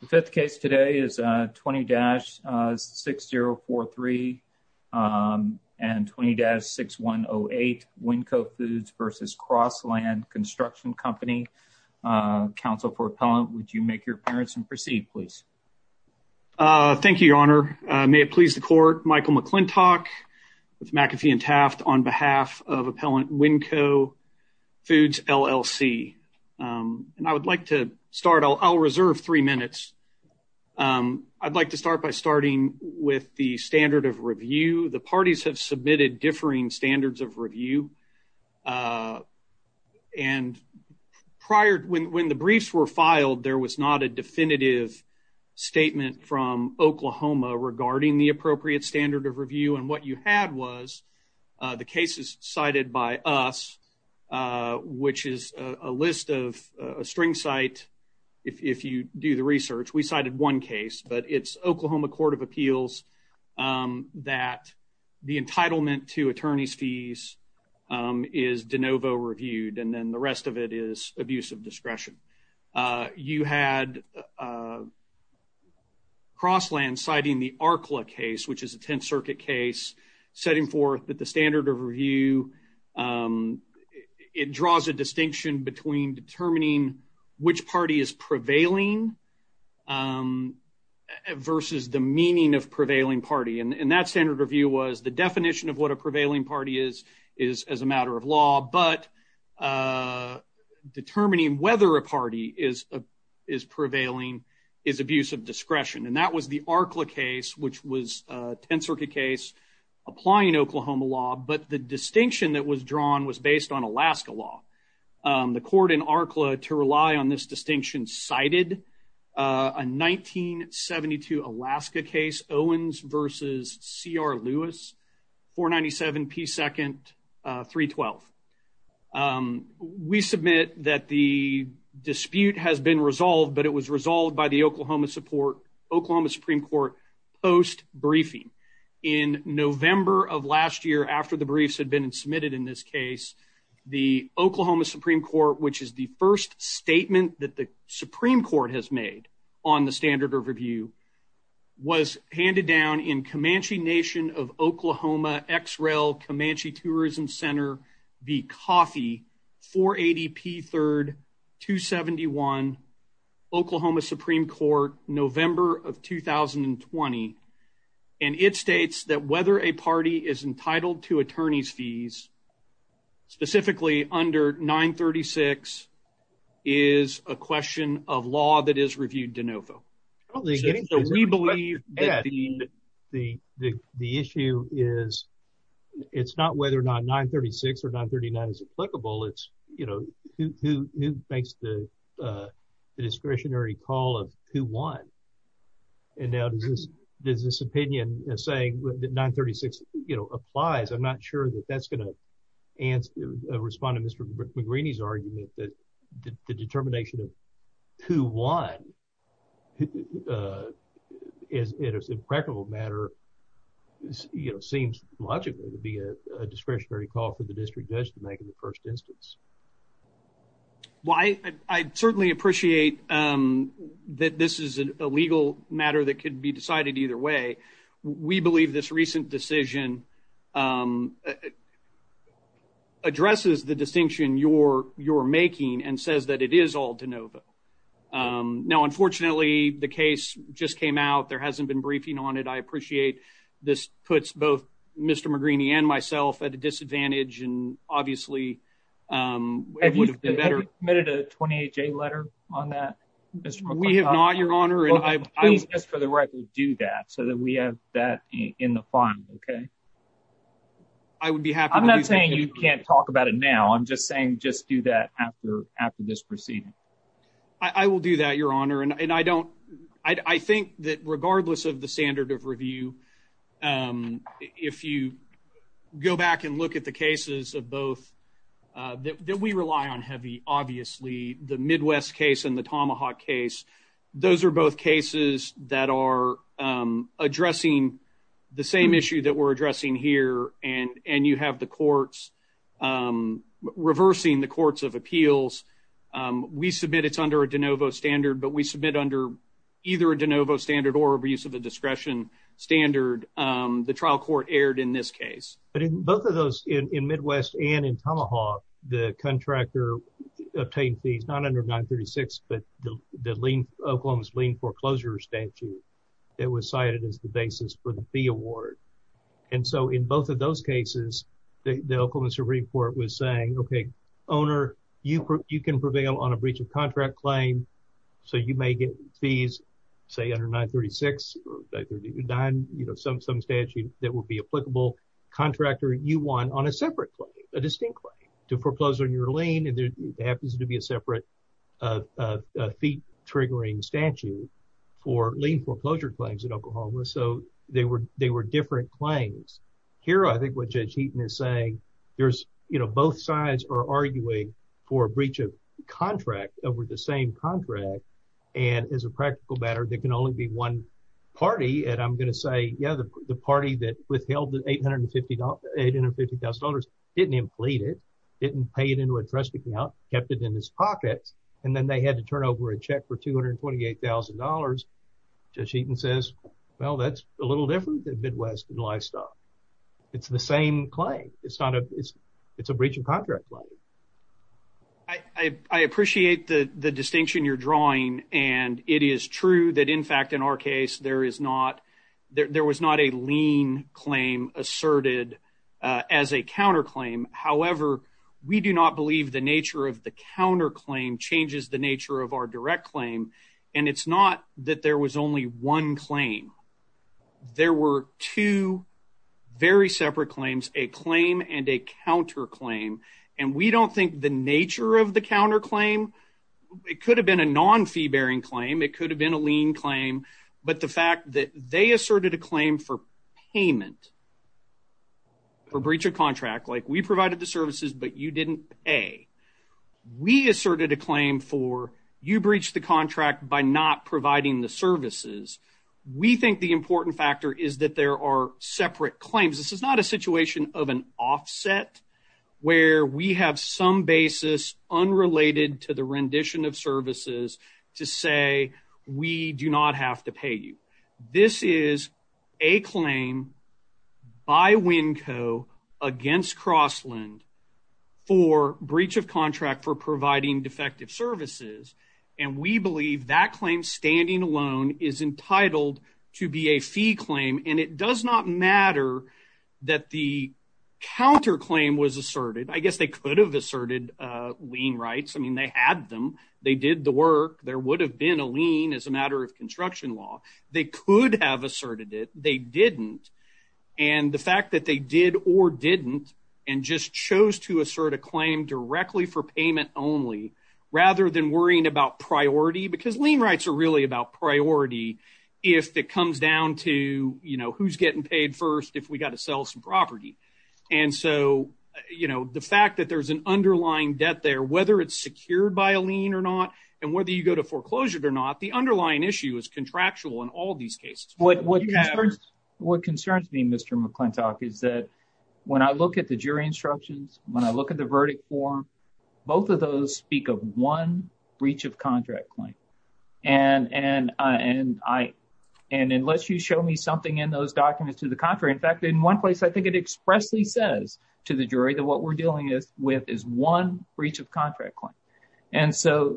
The fifth case today is 20-6043 and 20-6108 Winco Foods v. Crossland Construction Company. Counsel for Appellant, would you make your appearance and proceed, please? Thank you, Your Honor. May it please the Court, Michael McClintock with McAfee and Taft on behalf of Appellant Winco Foods LLC. And I would like to start, I'll reserve three minutes. I'd like to start by starting with the standard of review. The parties have submitted differing standards of review. And prior, when the briefs were filed, there was not a definitive statement from Oklahoma regarding the appropriate standard of review. And what you had was the cases cited by us, which is a list of a string site. If you do the research, we cited one case, but it's Oklahoma Court of Appeals that the entitlement to attorney's fees is de novo reviewed, and then the rest of it is abuse of discretion. You had Crossland citing the ARCLA case, which is a Tenth Circuit case, setting forth that the standard of review, it draws a distinction between determining which party is prevailing versus the meaning of prevailing party. And that standard of view was the definition of what a prevailing party is, is as a matter of law, but determining whether a party is prevailing is abuse of discretion. And that was the ARCLA case, which was a Tenth Circuit case applying Oklahoma law. But the distinction that was drawn was based on Alaska law. The court in ARCLA to rely on this distinction cited a 1972 Alaska case, Owens versus C.R. Lewis, 497 P. Second, 312. We submit that the dispute has been resolved, but it was resolved by the Oklahoma Supreme Court post-briefing. In November of last year, after the briefs had been submitted in this case, the Oklahoma Supreme Court, which is the first statement that the Supreme Court has made on the standard of review, was handed down in Comanche Nation of Oklahoma X-Rail Comanche Tourism Center v. Coffey, 480 P. Third, 271 Oklahoma Supreme Court, November of 2020. And it states that whether a party is entitled to attorney's fees, specifically under 936, is a question of law that is reviewed de novo. So we believe that the issue is, it's not whether or not 936 or 939 is applicable. It's, you know, who makes the discretionary call of who won. And now there's this opinion saying that 936 applies. I'm not sure that that's going to respond to Mr. McGraney's argument that the determination of who won is an impractical matter, you know, seems logically to be a discretionary call for the district judge to make in the first instance. Well, I certainly appreciate that this is a legal matter that could be decided either way. We believe this recent decision addresses the distinction you're making and says that it is all de novo. Now, unfortunately, the case just came out. There hasn't been briefing on it. I appreciate this puts both Mr. McGraney and myself at a disadvantage. And obviously, it would have been better. Have you submitted a 28-J letter on that, Mr. McLaughlin? We have not, Your Honor. Please, just for the record, do that so that we have that in the fine, okay? I would be happy. I'm not saying you can't talk about it now. I'm just saying just do that after this proceeding. I will do that, Your Honor. And I think that regardless of the standard of review, if you go back and look at the cases of both that we rely on heavy, obviously, the Midwest case and the Tomahawk case, those are both cases that are addressing the same issue that we're addressing here. And you have the courts reversing the courts of appeals. We submit it's under a de novo standard, but we submit under either a de novo standard or abuse of a discretion standard. The trial court erred in this case. But in both of those, in Midwest and in Tomahawk, the contractor obtained fees, not under 936, but the fee award. And so in both of those cases, the Oklahoma Supreme Court was saying, okay, owner, you can prevail on a breach of contract claim. So you may get fees, say, under 936, some statute that would be applicable. Contractor, you won on a separate claim, a distinct claim to foreclose on your lien. And there happens to be a separate fee-triggering statute for lien foreclosure claims in Oklahoma. So they were different claims. Here, I think what Judge Heaton is saying, there's, you know, both sides are arguing for a breach of contract over the same contract. And as a practical matter, there can only be one party. And I'm going to say, yeah, the party that withheld the $850,000 didn't implete it, didn't pay it into a trust account, kept it in his pocket, and then they had to turn over a check for $228,000, Judge Heaton says, well, that's a little different than Midwest and Lifestyle. It's the same claim. It's not a, it's a breach of contract claim. I appreciate the distinction you're drawing. And it is true that, in fact, in our case, there is not, there was not a lien claim asserted as a counterclaim. However, we do not believe the nature of the counterclaim changes the nature of our direct claim. And it's not that there was only one claim. There were two very separate claims, a claim and a counterclaim. And we don't think the nature of the counterclaim, it could have been a non-fee-bearing claim. It they asserted a claim for payment for breach of contract, like we provided the services, but you didn't pay. We asserted a claim for you breached the contract by not providing the services. We think the important factor is that there are separate claims. This is not a situation of an offset where we have some basis unrelated to the rendition of services to say, we do not have to pay you. This is a claim by Winco against Crossland for breach of contract for providing defective services. And we believe that claim standing alone is entitled to be a fee claim. And it does not matter that the counterclaim was asserted. I guess they could have asserted lien rights. I mean, they had them. They did the work. There would have been a lien as a matter of construction law. They could have asserted it. They didn't. And the fact that they did or didn't and just chose to assert a claim directly for payment only rather than worrying about priority because lien rights are really about priority. If it comes down to, you know, who's getting paid first, if we got to sell some property. And so, you know, the fact that there's an underlying debt there, whether it's secured by a lien or not, and whether you go to foreclosure or not, the underlying issue is contractual in all these cases. What concerns me, Mr. McClintock, is that when I look at the jury instructions, when I look at the verdict form, both of those speak of one breach of contract claim. And unless you show me something in those documents to the contrary, in fact, in one place, I think it expressly says to the jury that what we're dealing with is one breach of contract claim. And so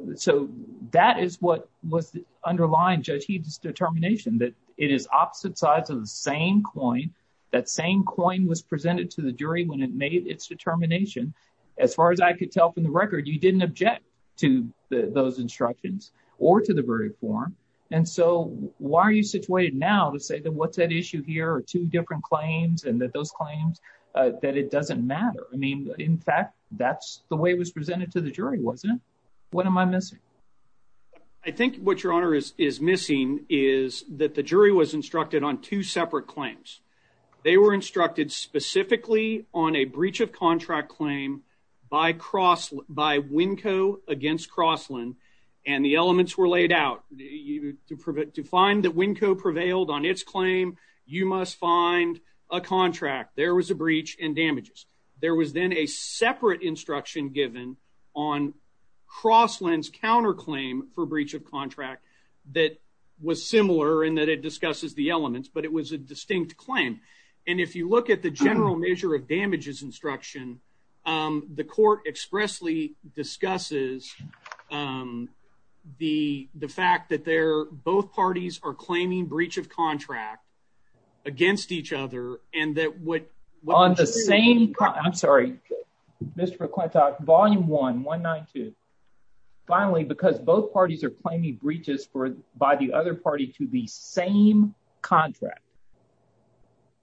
that is what was underlying Judge Heath's determination, that it is opposite sides of the same coin. That same coin was presented to the jury when it made its determination. As far as I could tell from the record, you didn't object to those instructions or to the verdict form. And so why are you situated now to say that what's at issue here are two different claims and that those claims, that it doesn't matter? I mean, in fact, that's the way it was wasn't it? What am I missing? I think what your honor is missing is that the jury was instructed on two separate claims. They were instructed specifically on a breach of contract claim by Winco against Crossland, and the elements were laid out. To find that Winco prevailed on its claim, you must find a contract. There was a breach and damages. There was then a separate instruction given on Crossland's counterclaim for breach of contract that was similar in that it discusses the elements, but it was a distinct claim. And if you look at the general measure of damages instruction, the court expressly discusses the fact that they're both parties are claiming breach of contract against each other, and that would on the same. I'm sorry, Mr. Quintock, volume one one nine two. Finally, because both parties are claiming breaches for by the other party to the same contract.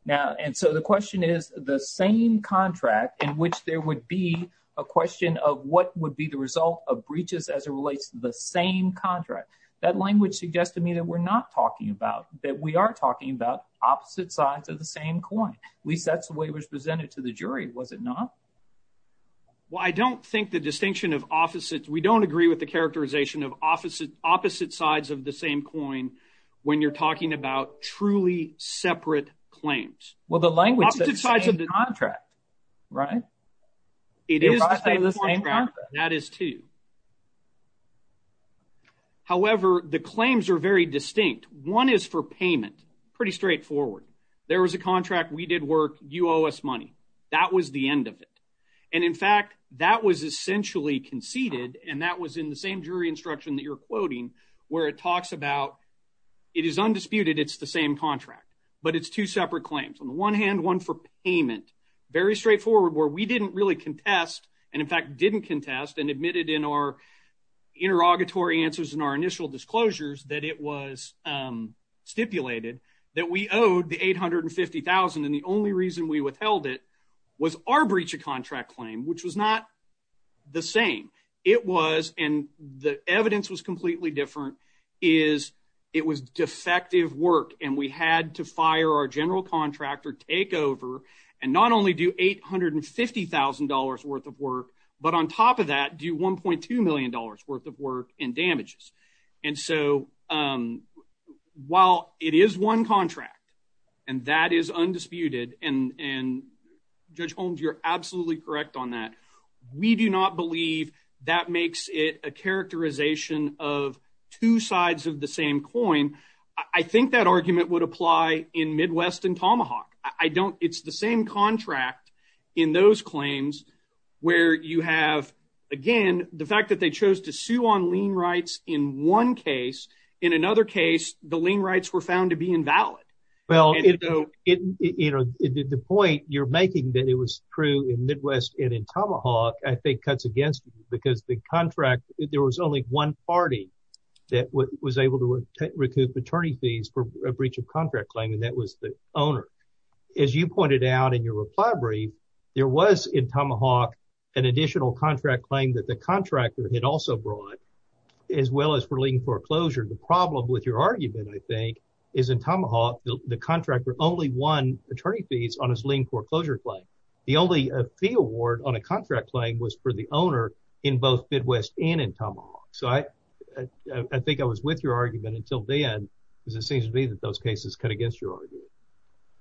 Now, and so the question is the same contract in which there would be a question of what would be the result of breaches as it relates to the same contract. That language suggests to me that we're not talking about, that we are talking about opposite sides of the same coin. At least that's the way it was presented to the jury, was it not? Well, I don't think the distinction of opposites, we don't agree with the characterization of opposite sides of the same coin when you're talking about truly separate claims. Well, the language of the contract, right? It is the same contract. That is too. However, the claims are very distinct. One is for payment. Pretty straightforward. There was a contract. We did work. You owe us money. That was the end of it. And in fact, that was essentially conceded. And that was in the same jury instruction that you're quoting, where it talks about it is undisputed. It's the same contract, but it's two separate claims. On the one hand, one for payment. Very straightforward, where we didn't really contest and in fact, didn't contest and admitted in our interrogatory answers in our initial disclosures that it was stipulated that we owed the $850,000. And the only reason we withheld it was our breach of contract claim, which was not the same. It was, and the evidence was completely different, is it was defective work. And we had to fire our general contractor, take over, and not only do $850,000 worth of work, but on top of that, do $1.2 million worth of work in damages. And so, um, while it is one contract and that is undisputed and, and Judge Holmes, you're absolutely correct on that. We do not believe that makes it a characterization of two sides of the same coin. I think that argument would apply in Midwest and Tomahawk. I don't, it's the same contract in those claims where you have, again, the fact that they chose to sue on lien rights in one case, in another case, the lien rights were found to be invalid. Well, you know, the point you're making that it was true in Midwest and in Tomahawk, I think cuts against you because the contract, there was only one party that was able to recoup attorney fees for a breach of contract claim. And that was the owner. As you pointed out in your reply brief, there was in Tomahawk an additional contract claim that the contractor had also brought as well as for lien foreclosure. The problem with your argument, I think, is in Tomahawk, the contractor only won attorney fees on his lien foreclosure claim. The only fee award on a contract claim was for the owner in both Midwest and in Tomahawk. So I, I think I was with your argument until then, because it seems to me that those cases cut against your argument.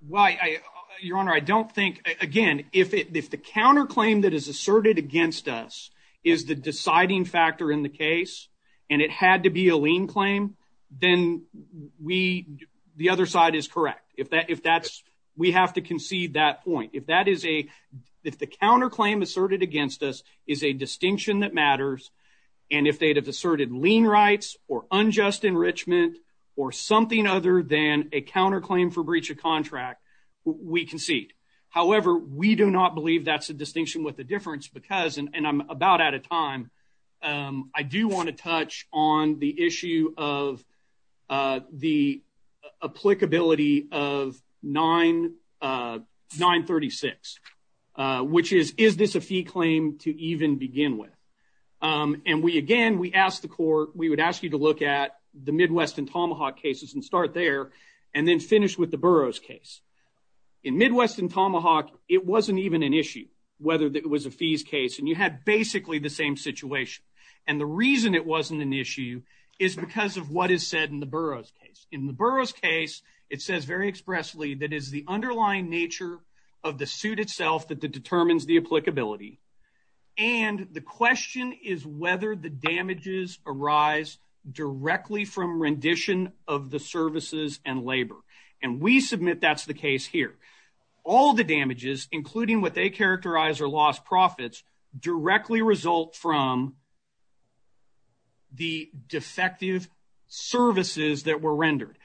Well, I, your honor, I don't think, again, if it, if the counter claim that is asserted against us is the deciding factor in the case and it had to be a lien claim, then we, the other side is correct. If that, if that's, we have to concede that point. If that is a, if the counter claim asserted against us is a distinction that matters and if they'd have asserted lien rights or unjust enrichment or something other than a counter claim for breach of contract, we concede. However, we do not believe that's a distinction with the difference because, and I'm about out of time, I do want to touch on the issue of the applicability of 9, 936, which is, is this a fee claim to even begin with? And we, again, we asked the court, we would ask you to look at the Midwest and Tomahawk cases and start there and then finish with the Burroughs case. In Midwest and Tomahawk, it wasn't even an issue whether it was a fees case and you had basically the same situation. And the reason it wasn't an issue is because of what is said in the Burroughs case. In the Burroughs case, it says very expressly that is the underlying nature of the suit itself that determines the applicability. And the question is whether the damages arise directly from rendition of the services and labor. And we submit that's the case here. All the damages, including what they characterize are lost profits, directly result from the defective services that were rendered.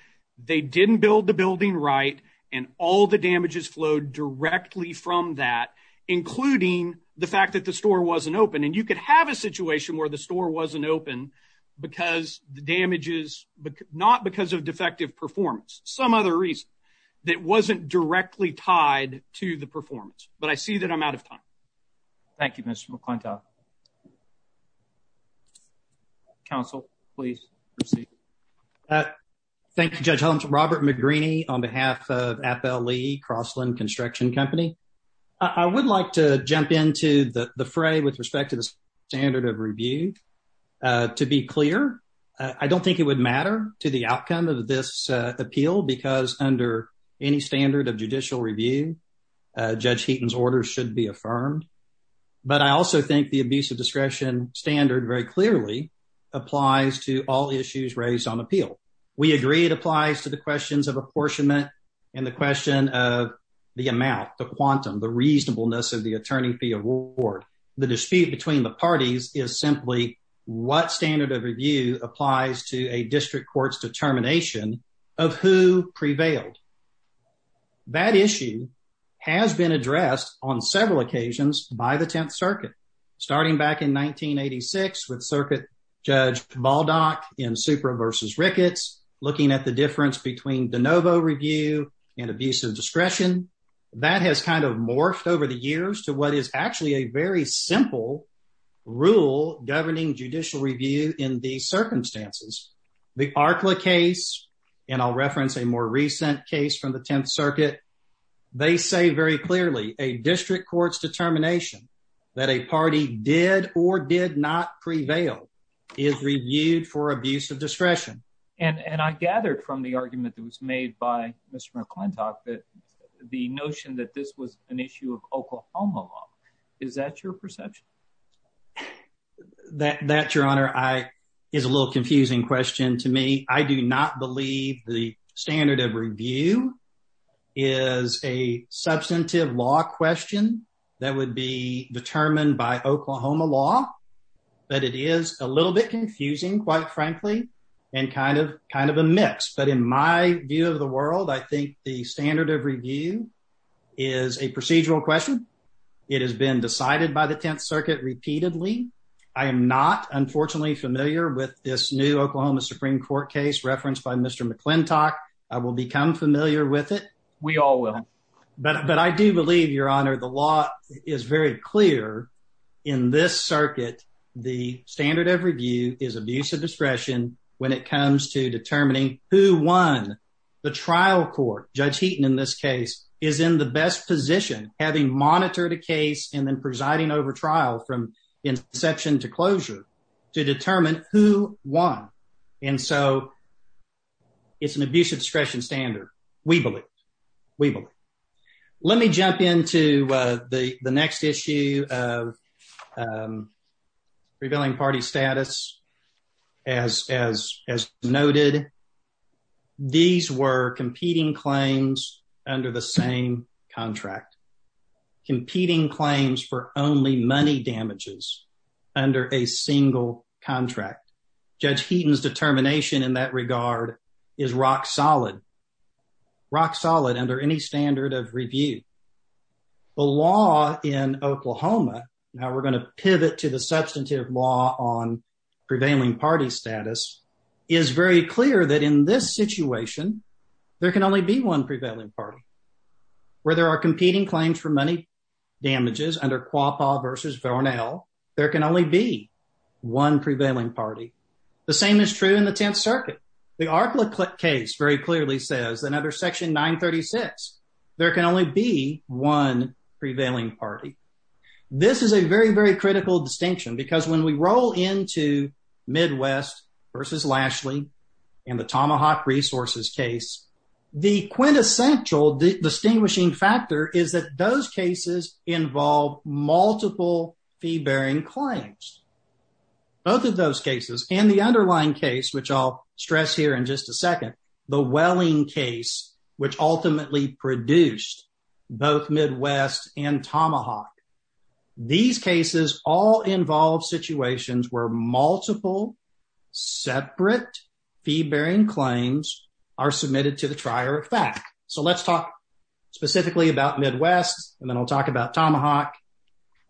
They didn't build the building right. And all the damages flowed directly from that, including the fact that the store wasn't open. And you could have a situation where the store wasn't open because the damages, but not because of defective performance, some other reason that wasn't directly tied to the performance. But I see that I'm out of time. Thank you, Mr. McClintock. Council, please proceed. Thank you, Judge Holmes. Robert McGreeny on behalf of Appel Lee Crossland Construction Company. I would like to jump into the fray with respect to the standard of review. To be clear, I don't think it would matter to the outcome of this appeal because under any standard of judicial review, Judge Heaton's order should be affirmed. But I also think the discretion standard very clearly applies to all issues raised on appeal. We agree it applies to the questions of apportionment and the question of the amount, the quantum, the reasonableness of the attorney fee award. The dispute between the parties is simply what standard of review applies to a district court's determination of who prevailed. That issue has been addressed on several occasions by the Tenth Circuit, starting back in 1986 with Circuit Judge Baldock in Supra v. Ricketts, looking at the difference between de novo review and abusive discretion. That has kind of morphed over the years to what is actually a very simple rule governing judicial review in these circumstances. The Arcla case, and I'll reference a more recent case from the district court's determination that a party did or did not prevail, is reviewed for abuse of discretion. And I gathered from the argument that was made by Mr. McClintock that the notion that this was an issue of Oklahoma law, is that your perception? That, your honor, is a little would be determined by Oklahoma law, but it is a little bit confusing, quite frankly, and kind of kind of a mix. But in my view of the world, I think the standard of review is a procedural question. It has been decided by the Tenth Circuit repeatedly. I am not, unfortunately, familiar with this new Oklahoma Supreme Court case referenced by Mr. McClintock. I will become familiar with it. We all will. But I do believe, your honor, the law is very clear in this circuit. The standard of review is abuse of discretion when it comes to determining who won the trial court. Judge Heaton, in this case, is in the best position, having monitored a case and then presiding over trial from inception to closure to determine who won. And so it's an abuse of discretion standard, we believe. We believe. Let me jump into the next issue of revealing party status. As noted, these were competing claims under the same contract. Competing claims for only money damages under a single contract. Judge Heaton's determination in that regard is rock solid. Rock solid under any standard of review. The law in Oklahoma, now we're going to pivot to the substantive law on prevailing party status, is very clear that in this situation, there can only be one prevailing party. Where there are competing claims for money damages under Quapaw v. Vornell, there can only be one prevailing party. The same is true in the circuit. The ARCLA case very clearly says, under Section 936, there can only be one prevailing party. This is a very, very critical distinction because when we roll into Midwest v. Lashley and the Tomahawk Resources case, the quintessential distinguishing factor is that those cases involve multiple fee-bearing claims. Both of those cases and the underlying case, which I'll stress here in just a second, the Welling case, which ultimately produced both Midwest and Tomahawk, these cases all involve situations where multiple separate fee-bearing claims are submitted to the Tomahawk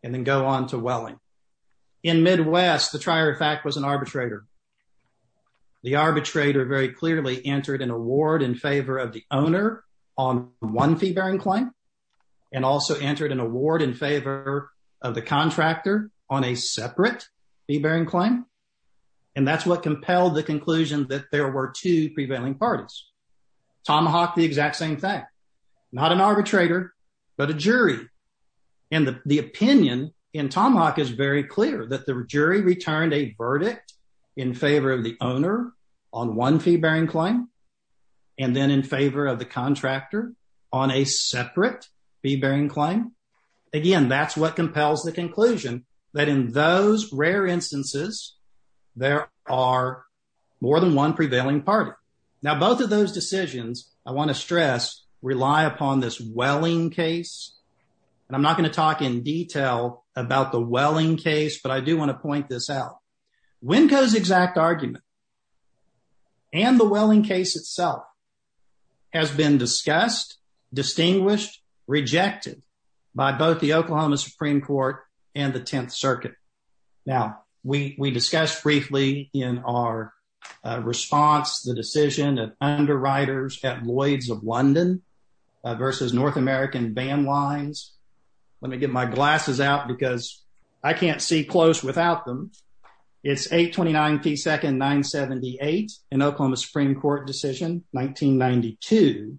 and then go on to Welling. In Midwest, the trier of fact was an arbitrator. The arbitrator very clearly entered an award in favor of the owner on one fee-bearing claim and also entered an award in favor of the contractor on a separate fee-bearing claim, and that's what compelled the conclusion that there were two prevailing parties. Tomahawk, the exact same thing. Not an arbitrator, but a jury, and the opinion in Tomahawk is very clear that the jury returned a verdict in favor of the owner on one fee-bearing claim and then in favor of the contractor on a separate fee-bearing claim. Again, that's what compels the conclusion that in those rare instances, there are more than one prevailing party. Now, both of those decisions, I want to stress, rely upon this Welling case, and I'm not going to talk in detail about the Welling case, but I do want to point this out. Winco's exact argument and the Welling case itself has been discussed, distinguished, rejected by both the decision of underwriters at Lloyd's of London versus North American Bandlines. Let me get my glasses out because I can't see close without them. It's 829 P. Second 978 in Oklahoma Supreme Court decision 1992.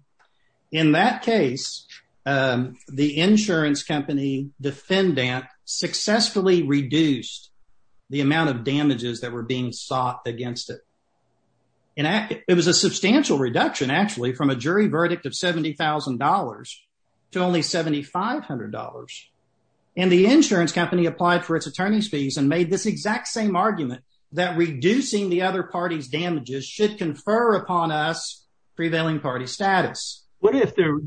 In that case, the insurance company defendant successfully reduced the amount of it was a substantial reduction, actually, from a jury verdict of $70,000 to only $7,500. And the insurance company applied for its attorney's fees and made this exact same argument that reducing the other party's damages should confer upon us prevailing party status. What if to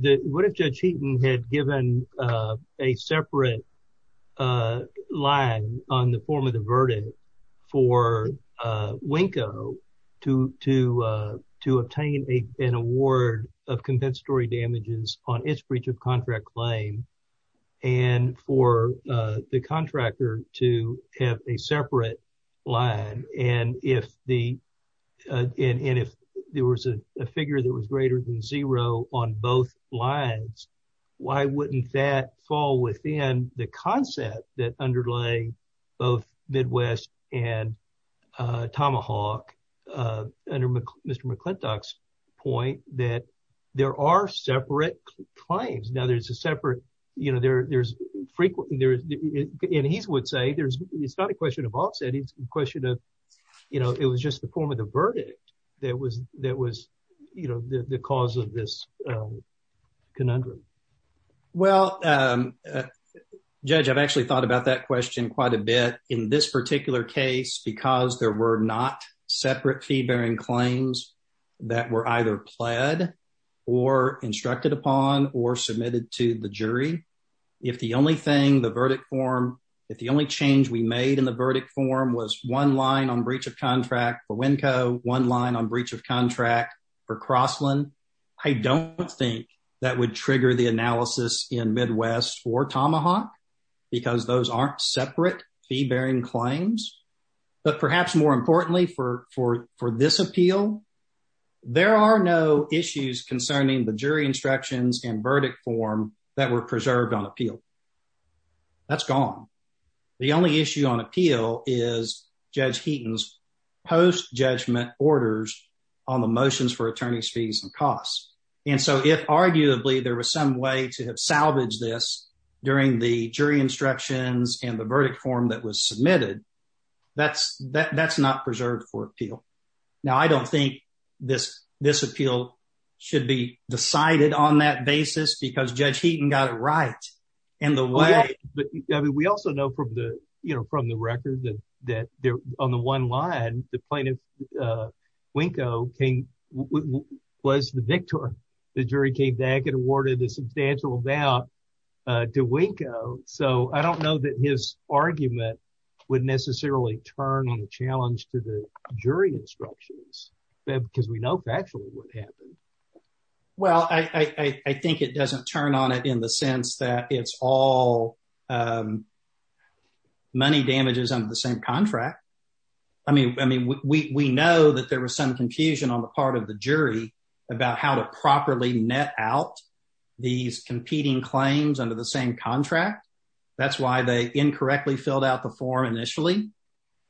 obtain an award of compensatory damages on its breach of contract claim, and for the contractor to have a separate line, and if there was a figure that was greater than zero on both lines, why wouldn't that fall within the concept that underlay both Midwest and Mr. McClintock's point that there are separate claims. Now, there's a separate, you know, there's frequent, there's, and he's would say, there's, it's not a question of offset, it's a question of, you know, it was just the form of the verdict that was that was, you know, the cause of this conundrum. Well, Judge, I've actually thought about that question quite a bit in this particular case, because there were not separate fee-bearing claims that were either pled or instructed upon or submitted to the jury. If the only thing the verdict form, if the only change we made in the verdict form was one line on breach of contract for Winco, one line on breach of contract for Crossland, I don't think that would trigger the analysis in Midwest for Tomahawk, because those aren't separate fee-bearing claims. But perhaps more importantly for this appeal, there are no issues concerning the jury instructions and verdict form that were preserved on appeal. That's gone. The only issue on appeal is Judge Heaton's post-judgment orders on the motions for attorney's fees and costs. And so if arguably there was some way to have salvaged this during the jury instructions and the verdict form that was submitted, that's not preserved for appeal. Now, I don't think this appeal should be decided on that basis, because Judge Heaton got it right in the way. But we also know from the record that on the one line, the plaintiff, Winco, was the victor. The jury came back and awarded a substantial amount to Winco. So I don't know that his argument would necessarily turn on the challenge to the jury instructions, because we know factually what happened. Well, I think it doesn't turn on it in the sense that it's all some money damages under the same contract. I mean, we know that there was some confusion on the part of the jury about how to properly net out these competing claims under the same contract. That's why they incorrectly filled out the form initially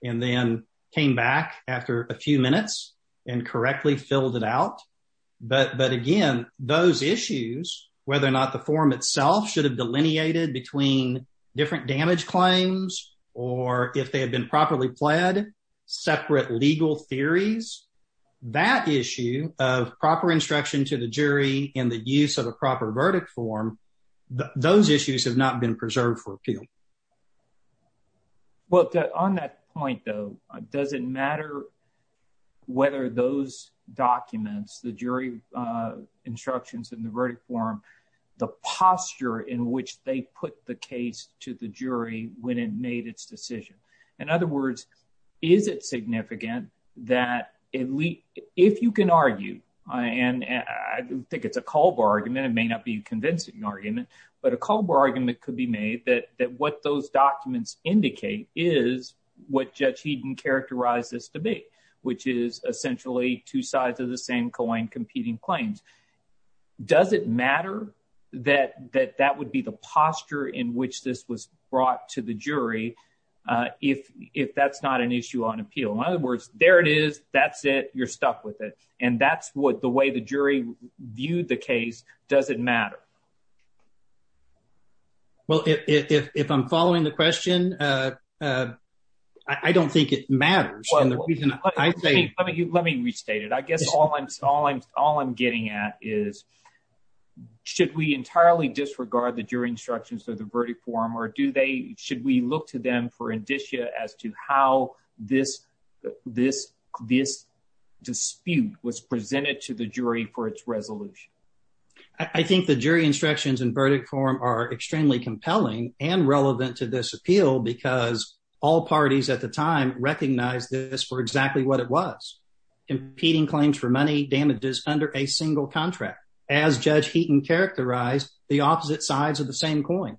and then came back after a few minutes and correctly filled it out. But again, those issues, whether or not the form itself should have delineated between different damage claims or if they had been properly pled, separate legal theories, that issue of proper instruction to the jury and the use of a proper verdict form, those issues have not been preserved for appeal. Well, on that point, though, does it matter whether those documents, the jury instructions and the verdict form, the posture in which they put the case to the jury when it made its decision? In other words, is it significant that if you can argue, and I think it's a call bar argument, it may not be a convincing argument, but a call bar argument could be made that what those documents indicate is what Judge Heaton characterized as debate, which is essentially two sides of the same coin competing claims. Does it matter that that would be the posture in which this was brought to the jury if that's not an issue on appeal? In other words, there it is. That's it. You're stuck with it. And that's what the way the jury viewed the case. Does it matter? Well, if I'm following the question, I don't think it matters. Let me restate it. I guess all I'm getting at is, should we entirely disregard the jury instructions or the verdict form, or should we look to them for indicia as to how this dispute was presented to the jury for its resolution? I think the jury instructions and verdict form are extremely compelling and relevant to this appeal because all parties at this were exactly what it was, competing claims for money damages under a single contract, as Judge Heaton characterized the opposite sides of the same coin.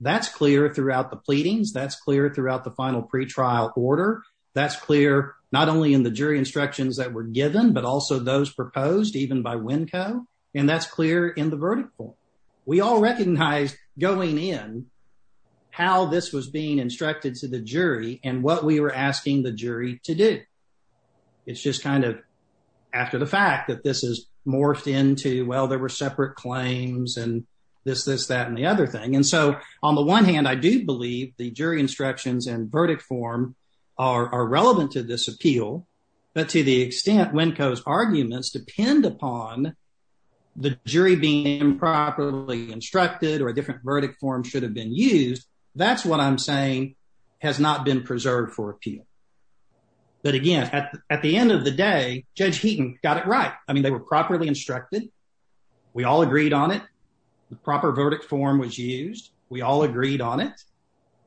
That's clear throughout the pleadings. That's clear throughout the final pretrial order. That's clear not only in the jury instructions that were given, but also those proposed even by Winco. And that's clear in the verdict form. We all recognize going in how this was being instructed to the jury and what we were asking the jury to do. It's just kind of after the fact that this is morphed into, well, there were separate claims and this, this, that, and the other thing. And so on the one hand, I do believe the jury instructions and verdict form are relevant to this appeal. But to the extent Winco's arguments depend upon the jury being improperly instructed or a different verdict form should have been used. That's what I'm saying has not been preserved for appeal. But again, at the end of the day, Judge Heaton got it right. I mean, they were properly instructed. We all agreed on it. The proper verdict form was used. We all agreed on it.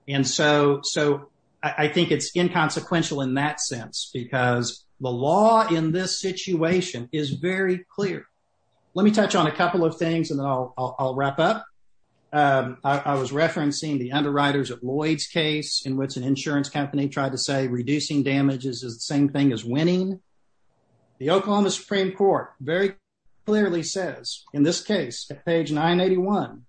And so, so I think it's inconsequential in that sense, because the law in this situation is very clear. Let me touch on a couple of things and then I'll wrap up. I was referencing the underwriters of Lloyd's case in which an insurance company tried to say reducing damage is the same thing as winning. The Oklahoma Supreme Court very clearly says in this case at page 981,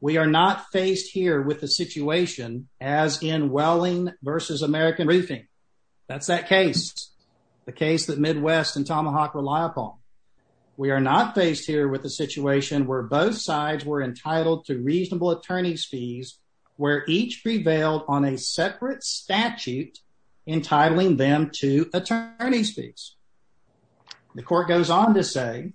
we are not faced here with the situation as in Welling versus American Briefing. That's that case, the case that Midwest and Tomahawk rely upon. We are not faced here with a situation where both sides were entitled to reasonable attorney's fees where each prevailed on a separate statute entitling them to attorney's fees. The court goes on to say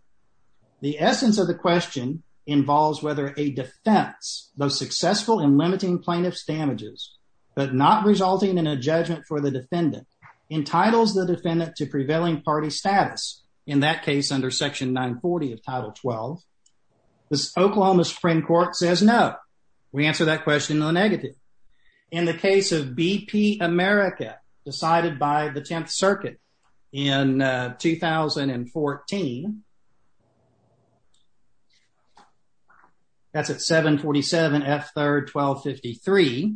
the essence of the question involves whether a defense, though successful in limiting plaintiff's damages, but not resulting in a judgment for the defendant, entitles the defendant to prevailing party status. In that case, under Section 940 of Title 12, the Oklahoma Supreme Court says no. We answer that question in the negative. In the case of BP America decided by the Tenth Circuit in 2014, that's at 747 F 3rd 1253,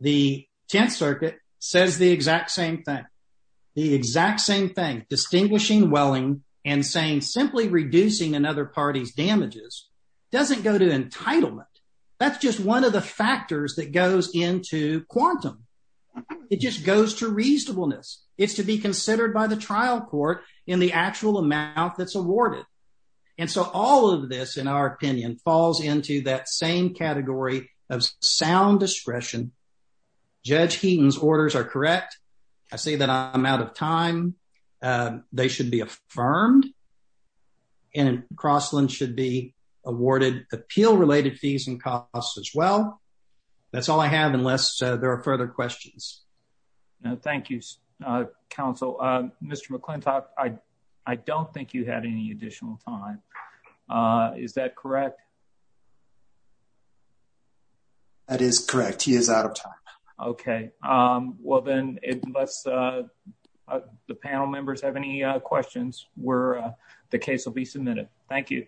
the Tenth Circuit says the exact same thing. The exact same thing, distinguishing Welling and saying simply reducing another party's damages doesn't go to entitlement. That's just one of the factors that goes into quantum. It just goes to reasonableness. It's to considered by the trial court in the actual amount that's awarded. And so all of this, in our opinion, falls into that same category of sound discretion. Judge Heaton's orders are correct. I say that I'm out of time. They should be affirmed and Crossland should be awarded appeal related fees and costs as well. That's all I have, unless there are further questions. Thank you, Counsel. Mr. McClintock, I don't think you had any additional time. Is that correct? That is correct. He is out of time. Okay. Well, then, unless the panel members have any questions where the case will be submitted. Thank you.